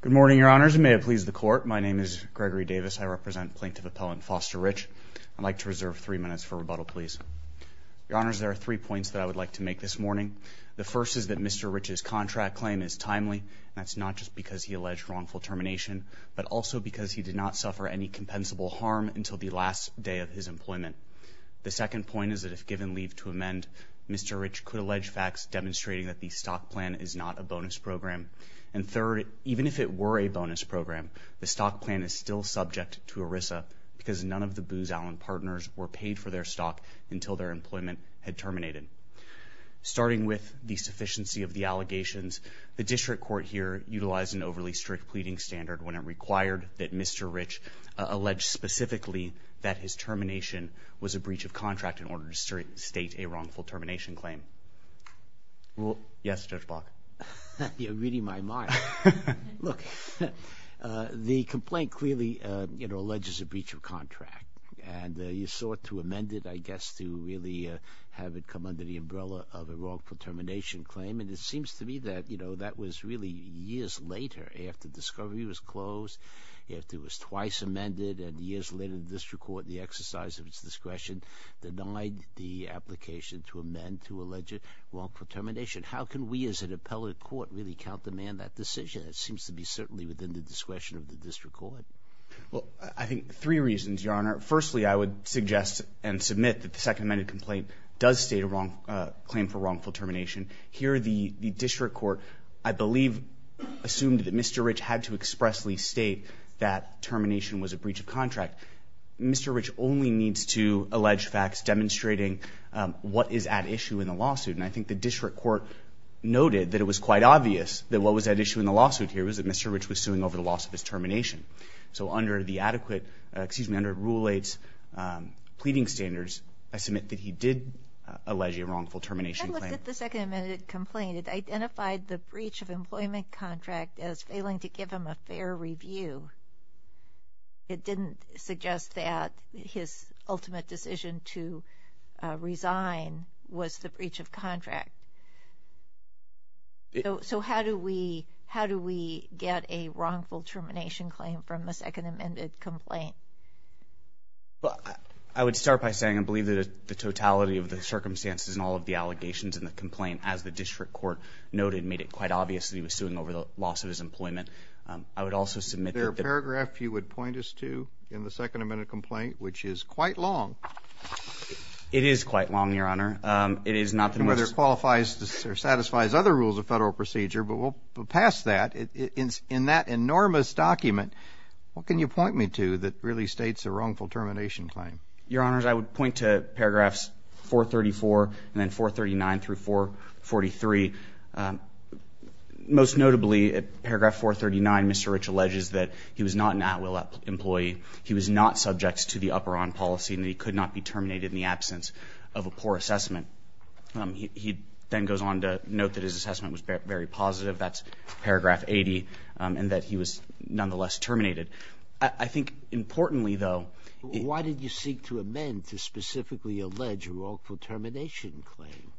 Good morning, your honors. May it please the court. My name is Gregory Davis. I represent Plaintiff Appellant Foster Rich. I'd like to reserve three minutes for rebuttal, please. Your honors, there are three points that I would like to make this morning. The first is that Mr. Rich's contract claim is timely. That's not just because he alleged wrongful termination, but also because he did not suffer any compensable harm until the last day of his employment. The second point is that if given leave to amend, Mr. Rich could allege facts demonstrating that the stock plan is not a bonus program. And third, even if it were a bonus program, the stock plan is still subject to ERISA because none of the Booz Allen partners were paid for their stock until their employment had terminated. Starting with the sufficiency of the allegations, the district court here utilized an overly strict pleading standard when it required that Mr. Rich allege specifically that his termination was a breach of contract in order to state a wrongful termination claim. Yes, Judge Block? You're reading my mind. Look, the complaint clearly alleges a breach of contract and you sought to amend it, I guess, to really have it come under the umbrella of a wrongful termination claim. And it seems to me that, you know, that was really years later after discovery was closed, after it was twice amended, and years later the district court, in the exercise of its discretion, denied the application to amend to allege a wrongful termination. How can we as an appellate court really countermand that decision? It seems to be certainly within the discretion of the district court. Well, I think three reasons, Your Honor. Firstly, I would suggest and submit that the second amended complaint does state a claim for wrongful termination. Here, the district court, I believe, assumed that Mr. Rich had to expressly state that termination was a breach of contract. Mr. Rich only needs to allege facts demonstrating what is at issue in the lawsuit. And I think the district court noted that it was quite obvious that what was at issue in the lawsuit here was that Mr. Rich was suing over the loss of his termination. So under the adequate, excuse me, under Rule 8's pleading standards, I submit that he did allege a wrongful termination claim. I looked at the second amended complaint. It identified the breach of employment contract as failing to give him a fair review. It didn't suggest that his ultimate decision to resign was the breach of contract. So how do we, how do we get a wrongful termination claim from a second amended complaint? I would start by saying I believe that the totality of the circumstances and all of the allegations in the complaint, as the district court noted, made it quite obvious that he was suing over the loss of his employment. I would also submit that... There are paragraphs you would point us to in the second amended complaint, which is quite long. It is quite long, Your Honor. It is not... Whether it qualifies or satisfies other rules of federal procedure, but we'll pass that. In that enormous document, what can you point me to that really states a wrongful termination claim? Your Honors, I would point to paragraphs 434 and then 439 through 443. Most notably at paragraph 439, Mr. Rich alleges that he was not an at-will employee. He was not subject to the up or on policy and that he could not be terminated in the absence of a poor assessment. He then goes on to note that his assessment was very positive. That's paragraph 80 and that he was nonetheless terminated. I think importantly, though... Why did you seek to amend to specifically allege a wrongful termination claim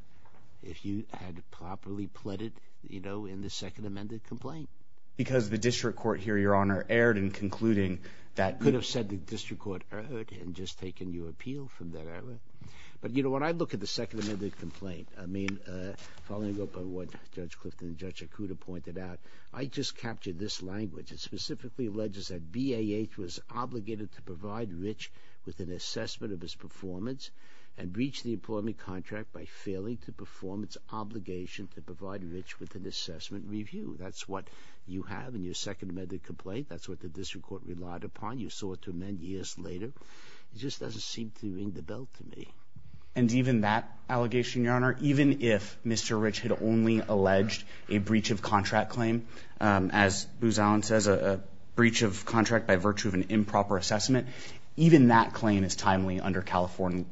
if you had properly pleaded, you know, in the second amended complaint? Because the district court here, Your Honor, erred in concluding that... You could have said the district court erred in just taking your appeal from there. But, you know, when I look at the second amended complaint, I mean, following up on what Judge Clifton and Judge Yakuda pointed out, I just captured this language. It specifically alleges that BAH was obligated to provide Rich with an assessment of his performance and breach the employment contract by failing to perform its obligation to provide Rich with an assessment review. That's what you have in your second amended complaint. That's what the district court relied upon. You sought to amend years later. It just doesn't seem to ring the bell to me. And even that allegation, Your Honor, even if Mr. Rich had only alleged a breach of contract claim, as Booz Allen says, a breach of contract by virtue of an improper assessment, even that claim is timely under California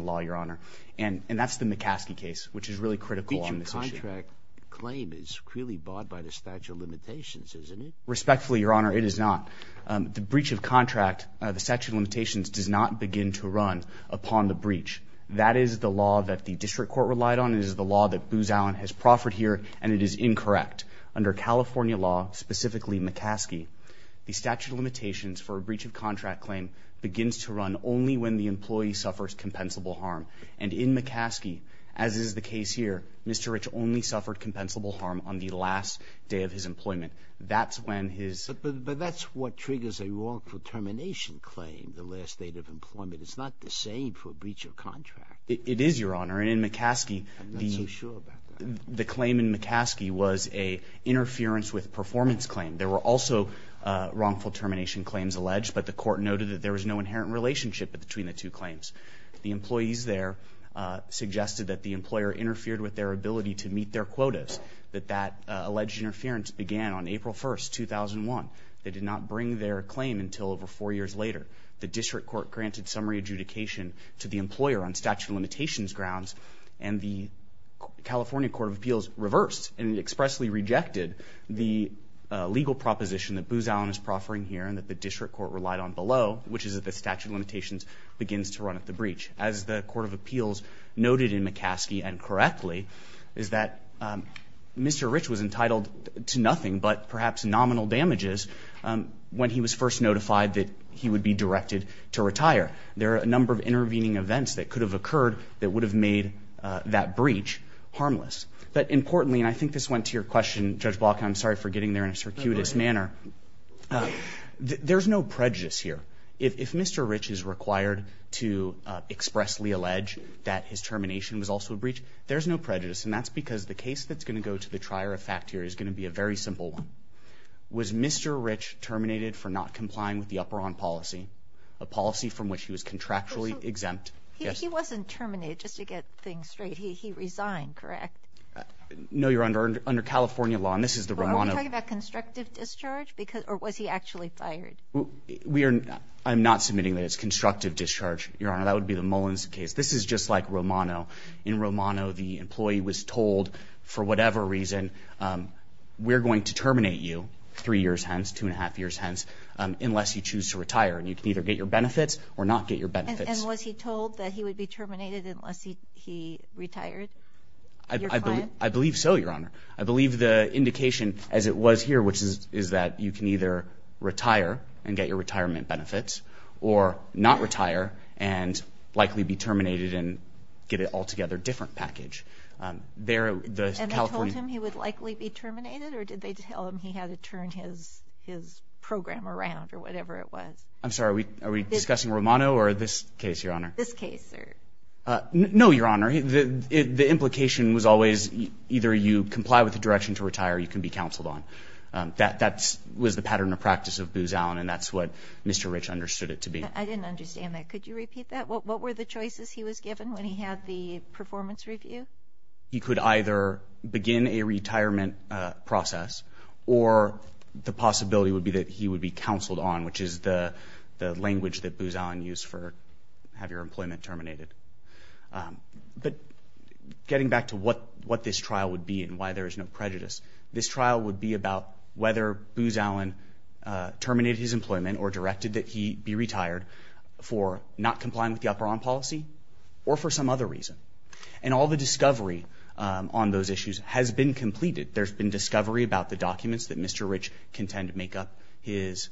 law, Your Honor. And that's the McCaskey case, which is really critical on this issue. The breach of contract claim is clearly bought by the statute of limitations, isn't it? Respectfully, Your Honor, it is not. The breach of contract, the statute of limitations does not begin to run upon the breach. That is the law that the district court relied on. It is the law that Booz Allen has proffered here, and it is incorrect. Under California law, specifically McCaskey, the statute of limitations for a breach of contract claim begins to run only when the employee suffers compensable harm. And in McCaskey, as is the case here, Mr. Rich only suffered compensable harm on the last day of his employment. That's when his But that's what triggers a wrongful termination claim, the last day of employment. It's not the same for a breach of contract. It is, Your Honor. And in McCaskey, the claim in McCaskey was an interference with performance claim. There were also wrongful termination claims alleged, but the court noted that there was no inherent relationship between the two claims. The employees there suggested that the employer interfered with their ability to meet their quotas, that that alleged interference began on April 1st, 2001. They did not bring their claim until over four years later. The district court granted summary adjudication to the employer on statute of limitations grounds, and the California Court of Appeals reversed and expressly rejected the legal proposition that Booz Allen is proffering here and that the district court relied on below, which is that the statute of limitations begins to run at the breach. As the Court of Appeals noted in McCaskey, and correctly, is that Mr. Rich was entitled to nothing but perhaps nominal damages when he was first notified that he would be directed to retire. There are a number of intervening events that could have occurred that would have made that breach harmless. But importantly, and I think this went to your question, Judge Block, and I'm sorry for getting there in a circuitous manner, there's no prejudice here. If Mr. Rich is required to expressly allege that his termination was also a breach, there's no prejudice. And that's because the case that's going to go to the trier of fact here is going to be a very simple one. Was Mr. Rich terminated for not complying with the upper arm policy, a policy from which he was contractually exempt? He wasn't terminated, just to get things straight. He resigned, correct? No, Your Honor. Under California law, and this is the Romano- Are we talking about constructive discharge? Or was he actually fired? I'm not submitting that it's constructive discharge, Your Honor. That would be the Mullins case. This is just like Romano. In Romano, the employee was told, for whatever reason, we're going to terminate you, three years hence, two and a half years hence, unless you choose to retire. And you can either get your benefits or not get your benefits. And was he told that he would be terminated unless he retired, your client? I believe so, Your Honor. I believe the indication, as it was here, which is that you can either retire and get your retirement benefits or not retire and likely be terminated and get an altogether different package. There, the California- And they told him he would likely be terminated? Or did they tell him he had to turn his program around or whatever it was? I'm sorry, are we discussing Romano or this case, Your Honor? This case, sir. No, Your Honor. The implication was always either you comply with the direction to retire or you can be counseled on. That was the pattern of practice of Booz Allen, and that's what Mr. Rich understood it to be. I didn't understand that. Could you repeat that? What were the choices he was given when he had the performance review? He could either begin a retirement process or the possibility would be that he would be counseled on, which is the language that Booz Allen used for have your employment terminated. But getting back to what this trial would be and why there is no prejudice, this trial would be about whether Booz Allen terminated his employment or directed that he be retired for not complying with the upper arm policy or for some other reason. And all the discovery on those issues has been completed. There's been discovery about the documents that Mr. Rich can tend to make up his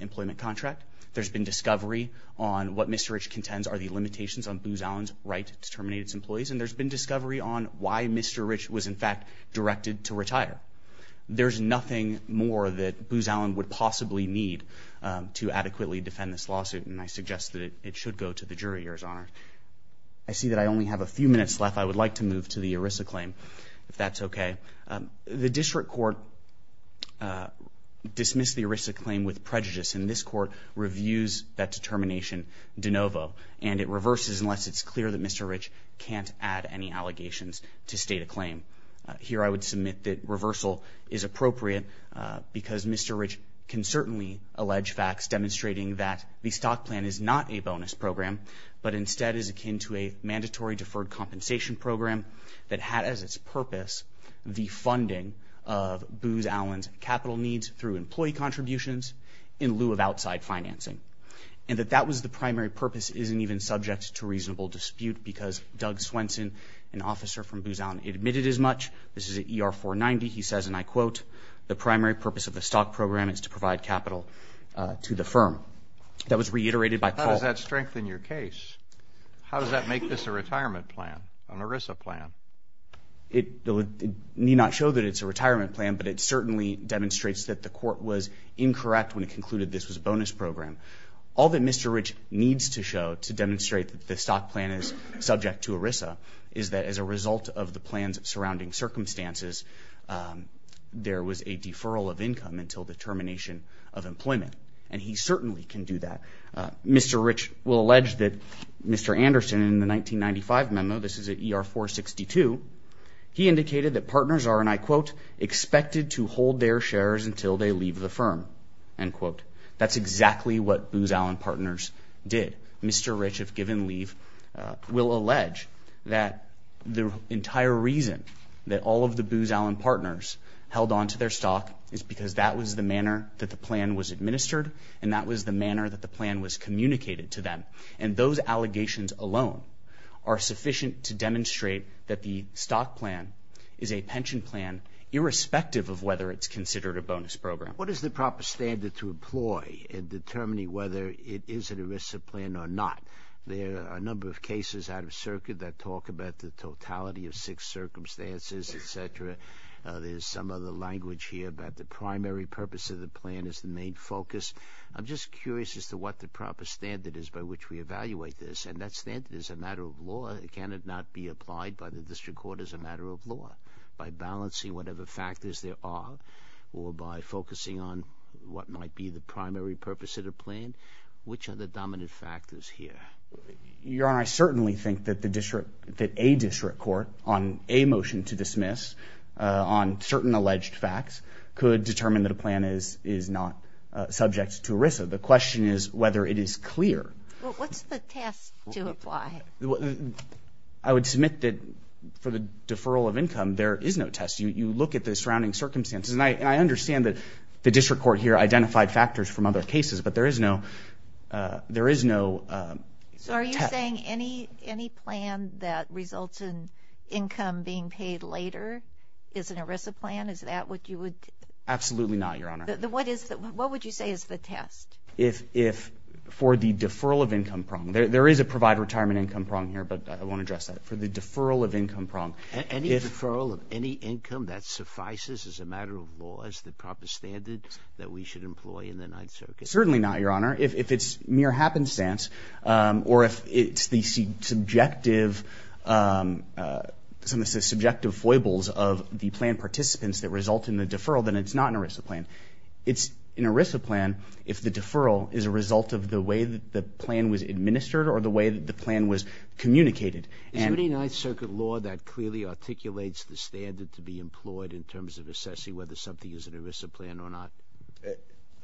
employment contract. There's been discovery on what Mr. Rich contends are the limitations on Booz Allen's right to terminate his employees. And there's been discovery on why Mr. Rich was in fact directed to retire. There's nothing more that Booz Allen would possibly need to adequately defend this lawsuit, and I suggest that it should go to the jury, Your Honor. I see that I only have a few minutes left. I would like to move to the ERISA claim, if that's okay. The district court dismissed the ERISA claim with prejudice, and this court reviews that determination de novo. And it reverses unless it's clear that Mr. Rich can't add any allegations to state a claim. Here I would submit that reversal is appropriate because Mr. Rich can certainly allege facts demonstrating that the stock plan is not a bonus program, but instead is akin to a mandatory deferred compensation program that had as its purpose the funding of Booz Allen's capital needs through employee contributions in lieu of outside financing. And that that was the primary purpose isn't even subject to reasonable dispute because Doug Swenson, an officer from Booz Allen, admitted as much. This is at ER 490. He says, and I quote, the primary purpose of the stock program is to provide capital to the firm. That was reiterated by Paul. How does that strengthen your case? How does that make this a retirement plan, an ERISA plan? It may not show that it's a retirement plan, but it certainly demonstrates that the court was incorrect when it concluded this was a bonus program. All that Mr. Rich needs to show to demonstrate that the stock plan is subject to ERISA is that as a result of the plan's surrounding circumstances, there was a deferral of income until the termination of employment. And he certainly can do that. Mr. Rich will allege that Mr. Anderson in a 1995 memo, this is at ER 462, he indicated that partners are, and I quote, expected to hold their shares until they leave the firm, end quote. That's exactly what Booz Allen partners did. Mr. Rich, if given leave, will allege that the entire reason that all of the Booz Allen partners held onto their stock is because that was the manner that the plan was administered and that was the manner that the plan was communicated to them. And those allegations alone are sufficient to demonstrate that the stock plan is a pension plan irrespective of whether it's considered a bonus program. What is the proper standard to employ in determining whether it is an ERISA plan or not? There are a number of cases out of circuit that talk about the totality of six circumstances, et cetera. There's some other language here about the primary purpose of the plan is the main focus. I'm just curious as to what the standard is. And that standard is a matter of law. Can it not be applied by the district court as a matter of law by balancing whatever factors there are or by focusing on what might be the primary purpose of the plan? Which are the dominant factors here? Your Honor, I certainly think that a district court on a motion to dismiss on certain alleged facts could determine that a plan is not subject to ERISA. The question is whether it is clear. Well, what's the test to apply? I would submit that for the deferral of income, there is no test. You look at the surrounding circumstances. And I understand that the district court here identified factors from other cases, but there is no test. So are you saying any plan that results in income being paid later is an ERISA plan? Is that what you would... Absolutely not, Your Honor. What would you say is the test? For the deferral of income prong, there is a provide retirement income prong here, but I won't address that. For the deferral of income prong... Any deferral of any income that suffices as a matter of law as the proper standard that we should employ in the Ninth Circuit? Certainly not, Your Honor. If it's mere happenstance or if it's the subjective foibles of the plan participants that result in the deferral, then it's not an ERISA plan. It's an ERISA plan if the deferral is a result of the way that the plan was administered or the way that the plan was communicated. Is there any Ninth Circuit law that clearly articulates the standard to be employed in terms of assessing whether something is an ERISA plan or not?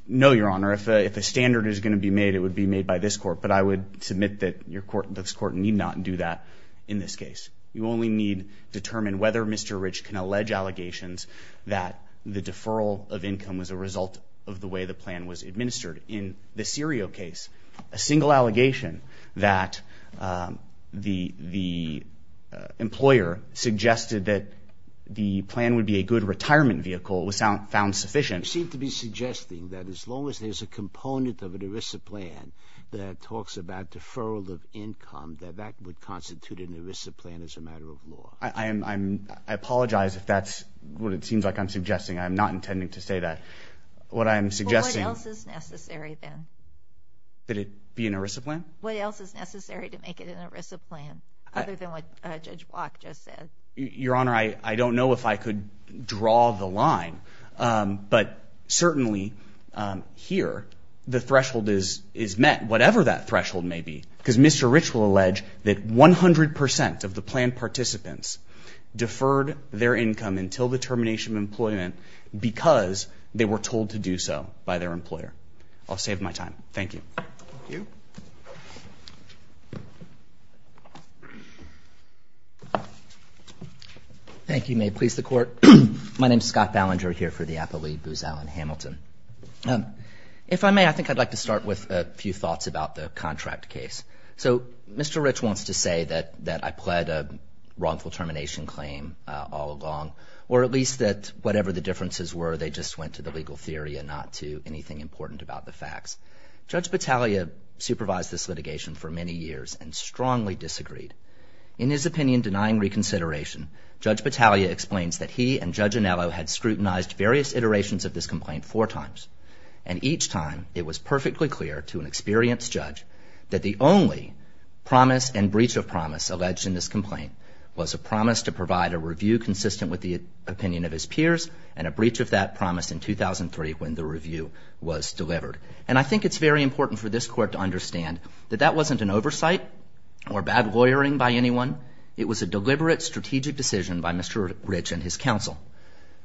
No, Your Honor. If a standard is going to be made, it would be made by this court. But I would submit that this court need not do that in this case. You only need determine whether Mr. Rich can allege allegations that the deferral of income was a result of the way the plan was administered. In the Serio case, a single allegation that the employer suggested that the plan would be a good retirement vehicle was found sufficient. You seem to be suggesting that as long as there's a component of an ERISA plan that talks about deferral of income, that that would constitute an ERISA plan as a matter of law. I apologize if that's what it seems like I'm suggesting. I'm not intending to say that. What I'm suggesting... What else is necessary then? That it be an ERISA plan? What else is necessary to make it an ERISA plan, other than what Judge Block just said? Your Honor, I don't know if I could draw the line, but certainly here, the threshold is met, whatever that threshold may be. Because Mr. Rich wants to say that I pled a wrongful termination claim all along, or at least that whatever the differences were, they just went to the legal theory and not to anything important about the facts. Judge Battaglia supervised this litigation for many years and strongly disagreed. In his opinion denying reconsideration, Judge Battaglia explains that he and Judge Anello had scrutinized various iterations of this complaint four times, and each time it was alleged in this complaint was a promise to provide a review consistent with the opinion of his peers, and a breach of that promise in 2003 when the review was delivered. And I think it's very important for this Court to understand that that wasn't an oversight or bad lawyering by anyone. It was a deliberate strategic decision by Mr. Rich and his counsel.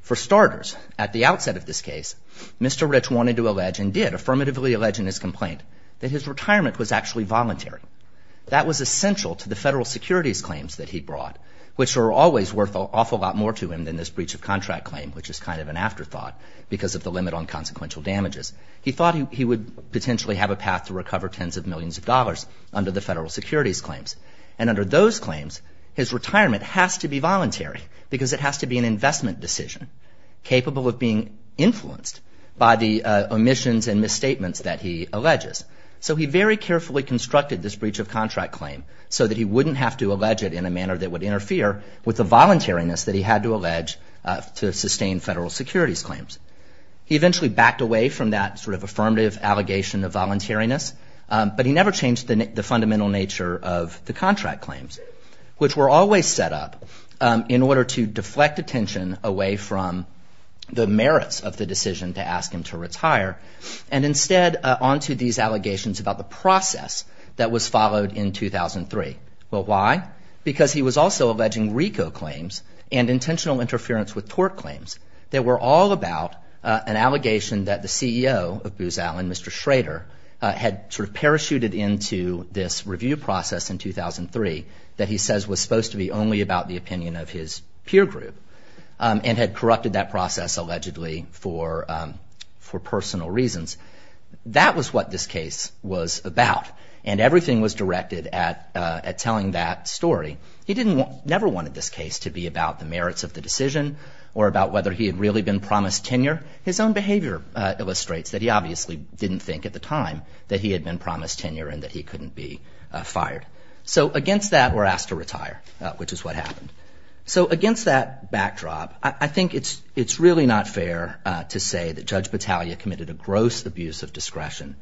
For starters, at the outset of this case, Mr. Rich wanted to allege, and did affirmatively allege in his complaint, that his retirement was actually voluntary. That was essential to federal securities claims that he brought, which are always worth an awful lot more to him than this breach of contract claim, which is kind of an afterthought because of the limit on consequential damages. He thought he would potentially have a path to recover tens of millions of dollars under the federal securities claims. And under those claims, his retirement has to be voluntary because it has to be an investment decision, capable of being influenced by the omissions and misstatements that he alleges. So he very carefully constructed this breach of contract claim so that he wouldn't have to allege it in a manner that would interfere with the voluntariness that he had to allege to sustain federal securities claims. He eventually backed away from that sort of affirmative allegation of voluntariness, but he never changed the fundamental nature of the contract claims, which were always set up in order to deflect attention away from the merits of the decision to ask him to retire, and instead onto these allegations about the process that was followed in 2003. Well, why? Because he was also alleging RICO claims and intentional interference with tort claims that were all about an allegation that the CEO of Booz Allen, Mr. Schrader, had sort of parachuted into this review process in 2003 that he says was supposed to be only about the opinion of his peer group, and had corrupted that process allegedly for personal reasons. That was what this case was about, and everything was directed at telling that story. He never wanted this case to be about the merits of the decision or about whether he had really been promised tenure. His own behavior illustrates that he obviously didn't think at the time that he had been promised tenure and that he couldn't be fired. So against that, we're asked to retire, which is what happened. So against that backdrop, I think it's really not fair to say that Judge Battaglia committed a gross abuse of discretion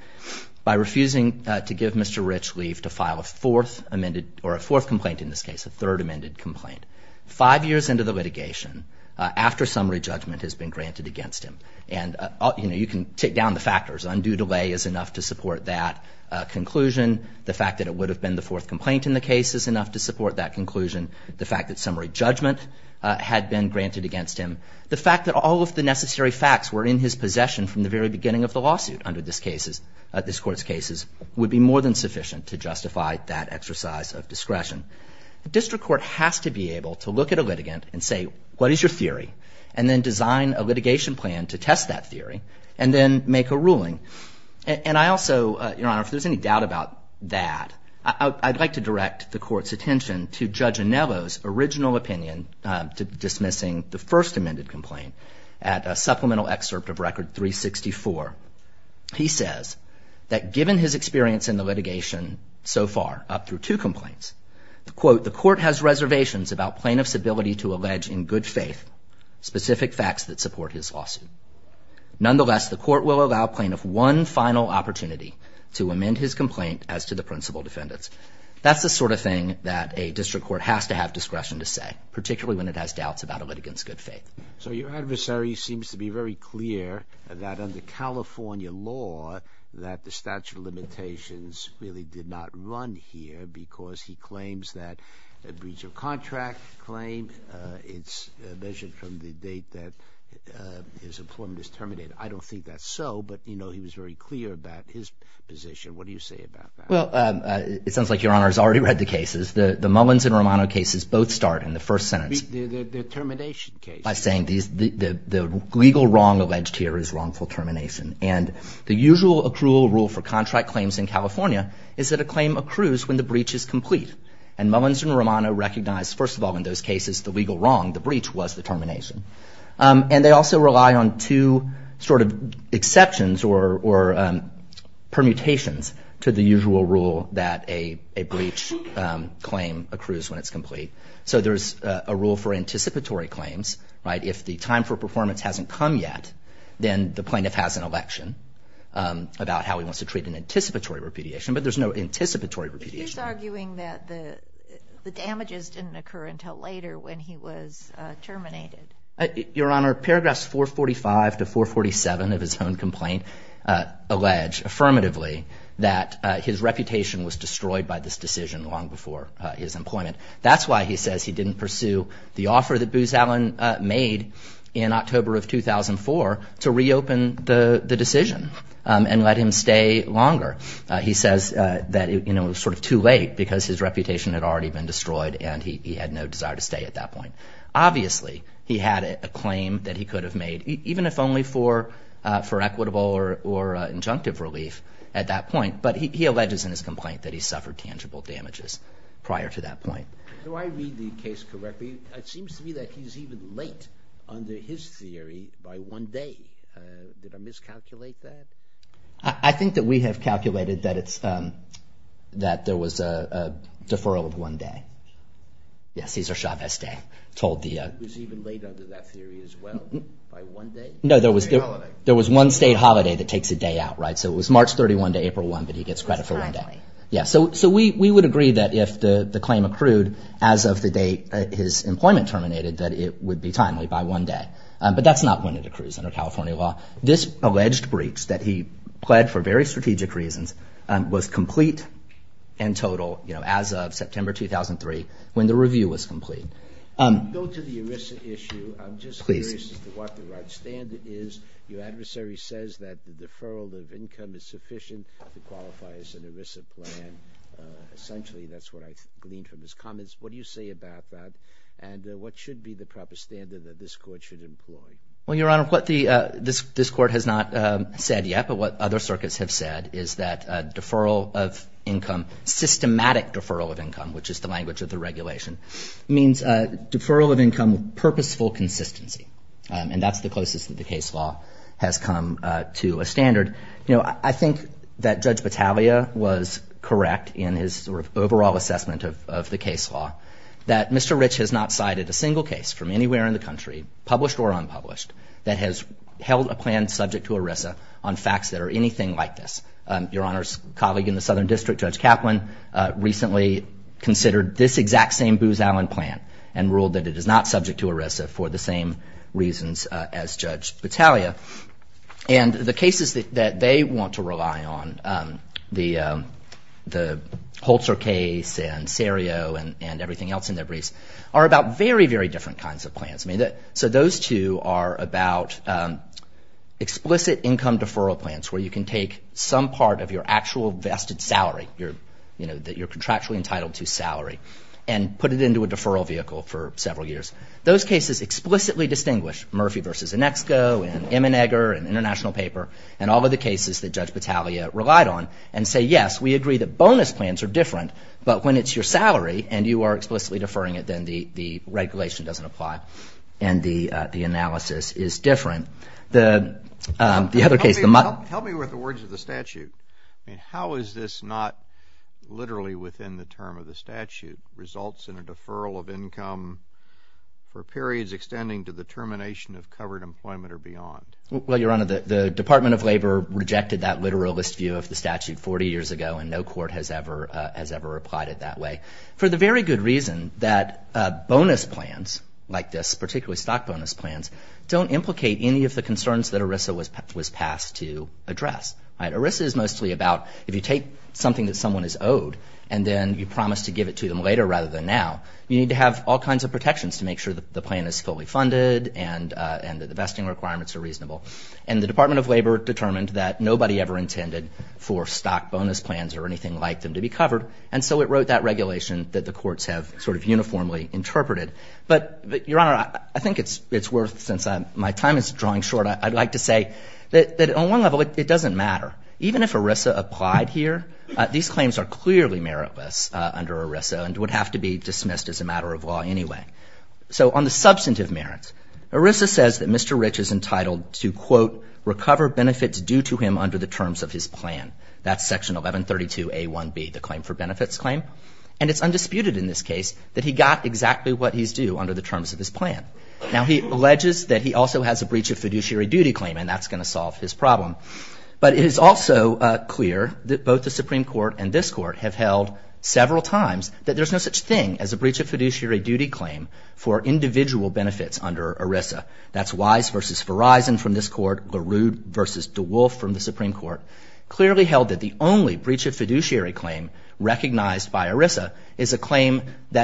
by refusing to give Mr. Rich leave to file a fourth amended or a fourth complaint in this case, a third amended complaint, five years into the litigation, after summary judgment has been granted against him. And, you know, you can take down the factors. Undue delay is enough to support that conclusion. The fact that it would have been the fourth complaint in the case is enough to The fact that all of the necessary facts were in his possession from the very beginning of the lawsuit under this Court's cases would be more than sufficient to justify that exercise of discretion. The district court has to be able to look at a litigant and say, what is your theory, and then design a litigation plan to test that theory, and then make a ruling. And I also, Your Honor, if there's any doubt about that, I'd like to direct the Court's opinion to dismissing the first amended complaint at a supplemental excerpt of Record 364. He says that given his experience in the litigation so far, up through two complaints, the Court has reservations about plaintiff's ability to allege in good faith specific facts that support his lawsuit. Nonetheless, the Court will allow plaintiff one final opportunity to amend his complaint as to the principal defendants. That's the sort of that a district court has to have discretion to say, particularly when it has doubts about a litigant's good faith. So your adversary seems to be very clear that under California law, that the statute of limitations really did not run here because he claims that a breach of contract claim, it's measured from the date that his employment is terminated. I don't think that's so, but you know, he was very clear about his position. What do you say about that? Well, it sounds like Your Honor has already read the cases. The Mullins and Romano cases both start in the first sentence. The termination case. By saying the legal wrong alleged here is wrongful termination. And the usual accrual rule for contract claims in California is that a claim accrues when the breach is complete. And Mullins and Romano recognize, first of all, in those cases, the legal wrong, the breach was the termination. And they also rely on two sort of exceptions or permutations to the usual rule that a breach claim accrues when it's complete. So there's a rule for anticipatory claims, right? If the time for performance hasn't come yet, then the plaintiff has an election about how he wants to treat an anticipatory repudiation. But there's no anticipatory repudiation. He's arguing that the damages didn't occur until later when he was terminated. Your Honor, paragraphs 445 to 447 of his own complaint allege affirmatively that his reputation was destroyed by this decision long before his employment. That's why he says he didn't pursue the offer that Booz Allen made in October of 2004 to reopen the decision and let him stay longer. He says that it was sort of too late because his reputation had already been destroyed and he had no desire to stay at that point. Obviously, he had a claim that he could have made even if only for equitable or injunctive relief at that point. But he alleges in his complaint that he suffered tangible damages prior to that point. Do I read the case correctly? It seems to me that he's even late under his theory by one day. Did I miscalculate that? I think that we have calculated that there was a deferral of one day. Yes, Cesar Chavez Day. He was even late under that theory as well by one day? No, there was one state holiday that takes a day out, right? So it was March 31 to April 1, but he gets credit for one day. So we would agree that if the claim accrued as of the date his employment terminated, that it would be timely by one day. But that's not when it accrues under California law. This alleged breach that he pled for very strategic reasons was complete and total as of September 2003 when the review was complete. Go to the ERISA issue. I'm just curious as to what the right standard is. Your adversary says that the deferral of income is sufficient to qualify as an ERISA plan. Essentially, that's what I gleaned from his comments. What do you say about that? And what should be the proper standard that this court should employ? Well, Your Honor, what this court has not said yet, but what other circuits have said, is that deferral of income, systematic deferral of income, which is the language of the regulation, means deferral of income with purposeful consistency. And that's the closest that the case law has come to a standard. You know, I think that Judge Battaglia was correct in his sort of overall assessment of the case law that Mr. Rich has not cited a single case from anywhere in the country, published or unpublished, that has held a plan subject to ERISA on facts that are anything like this. Your Honor's colleague in the Southern District, Judge Kaplan, recently considered this exact same Booz Allen plan and ruled that it is not subject to ERISA for the same reasons as Judge Battaglia. And the cases that they want to rely on, the Holzer case and Serio and everything else in their briefs, are about very, very different kinds of plans. So those two are about explicit income deferral plans where you can take some part of your actual vested salary, you know, that you're contractually entitled to salary, and put it into a deferral vehicle for several years. Those cases explicitly distinguish Murphy v. Inexco and Immenegger and International Paper and all of the cases that Judge Battaglia relied on and say, yes, we agree that bonus plans are different, but when it's your salary and you are explicitly deferring it, then the and the analysis is different. The other case, the... Help me with the words of the statute. I mean, how is this not literally within the term of the statute? Results in a deferral of income for periods extending to the termination of covered employment or beyond. Well, Your Honor, the Department of Labor rejected that literalist view of the statute 40 years ago and no court has ever applied it that way. For the very good reason that bonus plans like this, particularly stock bonus plans, don't implicate any of the concerns that ERISA was passed to address. ERISA is mostly about if you take something that someone is owed and then you promise to give it to them later rather than now, you need to have all kinds of protections to make sure that the plan is fully funded and that the vesting requirements are reasonable. And the Department of Labor determined that nobody ever intended for stock bonus plans or anything like them to be covered. And so it wrote that regulation that the courts have sort of uniformly interpreted. But Your Honor, I think it's worth, since my time is drawing short, I'd like to say that on one level, it doesn't matter. Even if ERISA applied here, these claims are clearly meritless under ERISA and would have to be dismissed as a matter of law anyway. So on the substantive merits, ERISA says that Mr. Rich is entitled to, quote, recover benefits due to him under the terms of his plan. That's Section 1132A1B, the claim for that he got exactly what he's due under the terms of his plan. Now, he alleges that he also has a breach of fiduciary duty claim, and that's going to solve his problem. But it is also clear that both the Supreme Court and this Court have held several times that there's no such thing as a breach of fiduciary duty claim for individual benefits under ERISA. That's Wise v. Verizon from this Court, LaRue v. DeWolf from the Supreme Court, clearly held that the only breach of that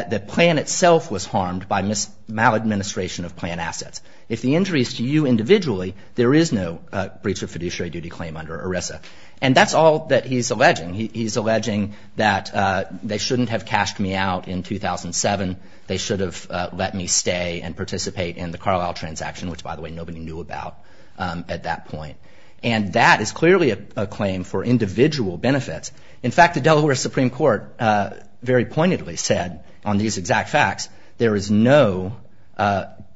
the plan itself was harmed by maladministration of plan assets. If the injury is to you individually, there is no breach of fiduciary duty claim under ERISA. And that's all that he's alleging. He's alleging that they shouldn't have cashed me out in 2007. They should have let me stay and participate in the Carlisle transaction, which, by the way, nobody knew about at that point. And that is clearly a claim for individual benefits. In fact, the Delaware Supreme Court very pointedly said on these exact facts, there is no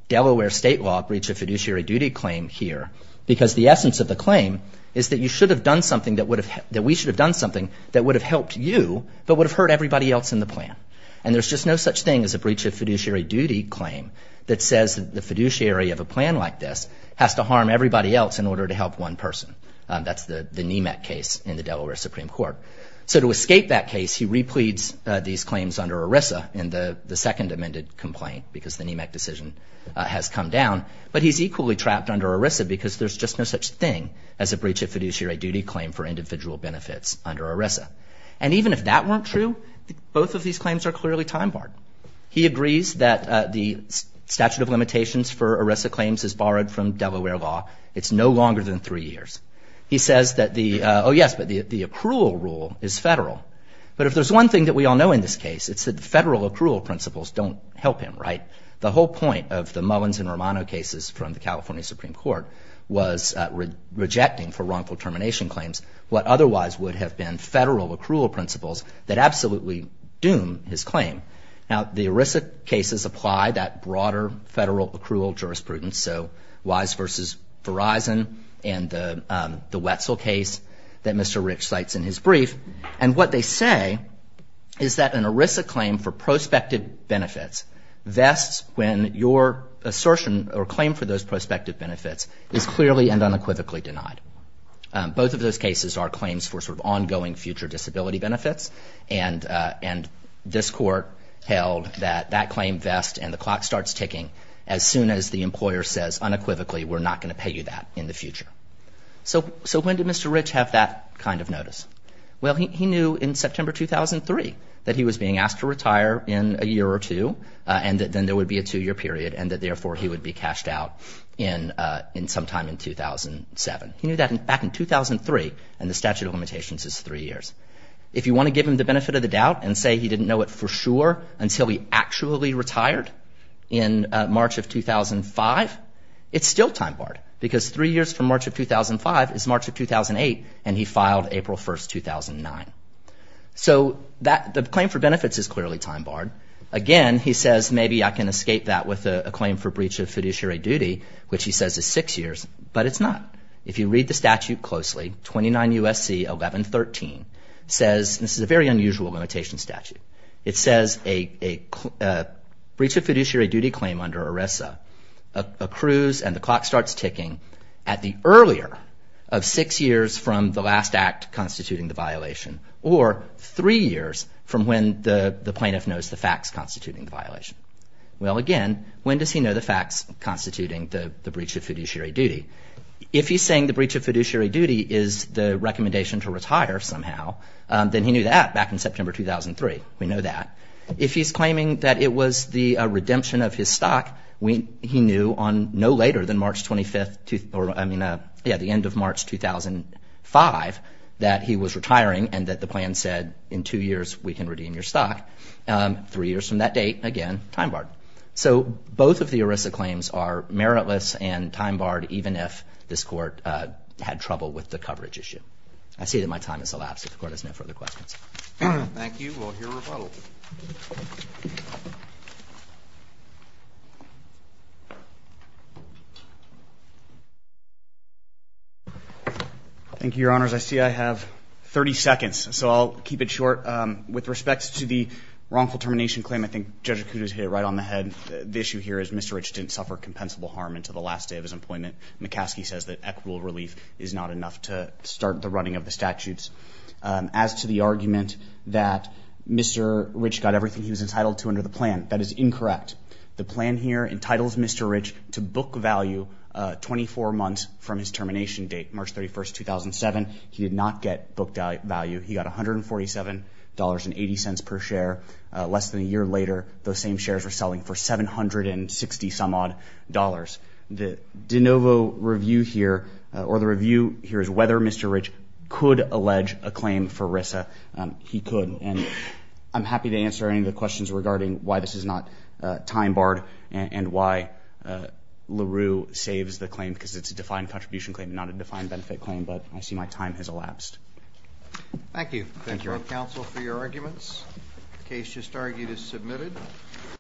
Delaware state law breach of fiduciary duty claim here, because the essence of the claim is that you should have done something that would have that we should have done something that would have helped you but would have hurt everybody else in the plan. And there's just no such thing as a breach of fiduciary duty claim that says the fiduciary of a plan like this has to harm everybody else in order to help one person. That's the NEMAC case in the Delaware Supreme Court. So to escape that case, he repleads these claims under ERISA in the second amended complaint because the NEMAC decision has come down. But he's equally trapped under ERISA because there's just no such thing as a breach of fiduciary duty claim for individual benefits under ERISA. And even if that weren't true, both of these claims are clearly time barred. He agrees that the statute of limitations for ERISA claims is borrowed from He says that the, oh yes, but the accrual rule is federal. But if there's one thing that we all know in this case, it's that federal accrual principles don't help him, right? The whole point of the Mullins and Romano cases from the California Supreme Court was rejecting for wrongful termination claims what otherwise would have been federal accrual principles that absolutely doom his claim. Now, the ERISA cases apply that broader federal accrual jurisprudence. So Wise v. Verizon and the Wetzel case that Mr. Rich cites in his brief. And what they say is that an ERISA claim for prospective benefits vests when your assertion or claim for those prospective benefits is clearly and unequivocally denied. Both of those cases are claims for sort of ongoing future disability benefits. And this court held that that claim vests and the clock starts ticking as soon as the employer says unequivocally we're not going to pay you that in the future. So when did Mr. Rich have that kind of notice? Well, he knew in September 2003 that he was being asked to retire in a year or two and that then there would be a two-year period and that therefore he would be cashed out in sometime in 2007. He knew that back in 2003 and the statute of limitations is three years. If you want to give him the benefit of the doubt and say he didn't know it for sure until he actually retired in March of 2005, it's still time barred because three years from March of 2005 is March of 2008 and he filed April 1, 2009. So the claim for benefits is clearly time barred. Again, he says maybe I can escape that with a claim for breach of fiduciary duty, which he says is six years, but it's not. If you read the statute closely, 29 U.S.C. 1113 says this is a very unusual limitation statute. It says a breach of fiduciary duty claim under ERESA accrues and the clock starts ticking at the earlier of six years from the last act constituting the violation or three years from when the plaintiff knows the facts constituting the violation. Well, again, when does he know the facts constituting the breach of the recommendation to retire somehow? Then he knew that back in September 2003. We know that. If he's claiming that it was the redemption of his stock, he knew on no later than March 25th, or I mean, yeah, the end of March 2005 that he was retiring and that the plan said in two years we can redeem your stock. Three years from that date, again, time barred. So both of the ERESA claims are meritless and time barred even if this Court had trouble with the coverage issue. I see that my time has elapsed. If the Court has no further questions. Thank you. We'll hear a rebuttal. Thank you, Your Honors. I see I have 30 seconds, so I'll keep it short. With respect to the wrongful termination claim, I think Judge Acuda's hit it right on the head. The issue here is Mr. Rich didn't suffer compensable harm until the last day of his employment. McCaskey says that equitable relief is not enough to start the running of the statutes. As to the argument that Mr. Rich got everything he was entitled to under the plan, that is incorrect. The plan here entitles Mr. Rich to book value 24 months from his termination date, March 31st, 2007. He did not get booked value. He got $147.80 per share. Less than a year later, those same shares were selling for $760-some-odd dollars. The de novo review here or the review here is whether Mr. Rich could allege a claim for RISA. He could, and I'm happy to answer any of the questions regarding why this is not time barred and why LaRue saves the claim because it's a defined contribution claim, not a defined benefit claim, but I see my time has elapsed. Thank you. Thank you, Your Honor. Thank you, counsel, for your arguments. The case just argued is submitted.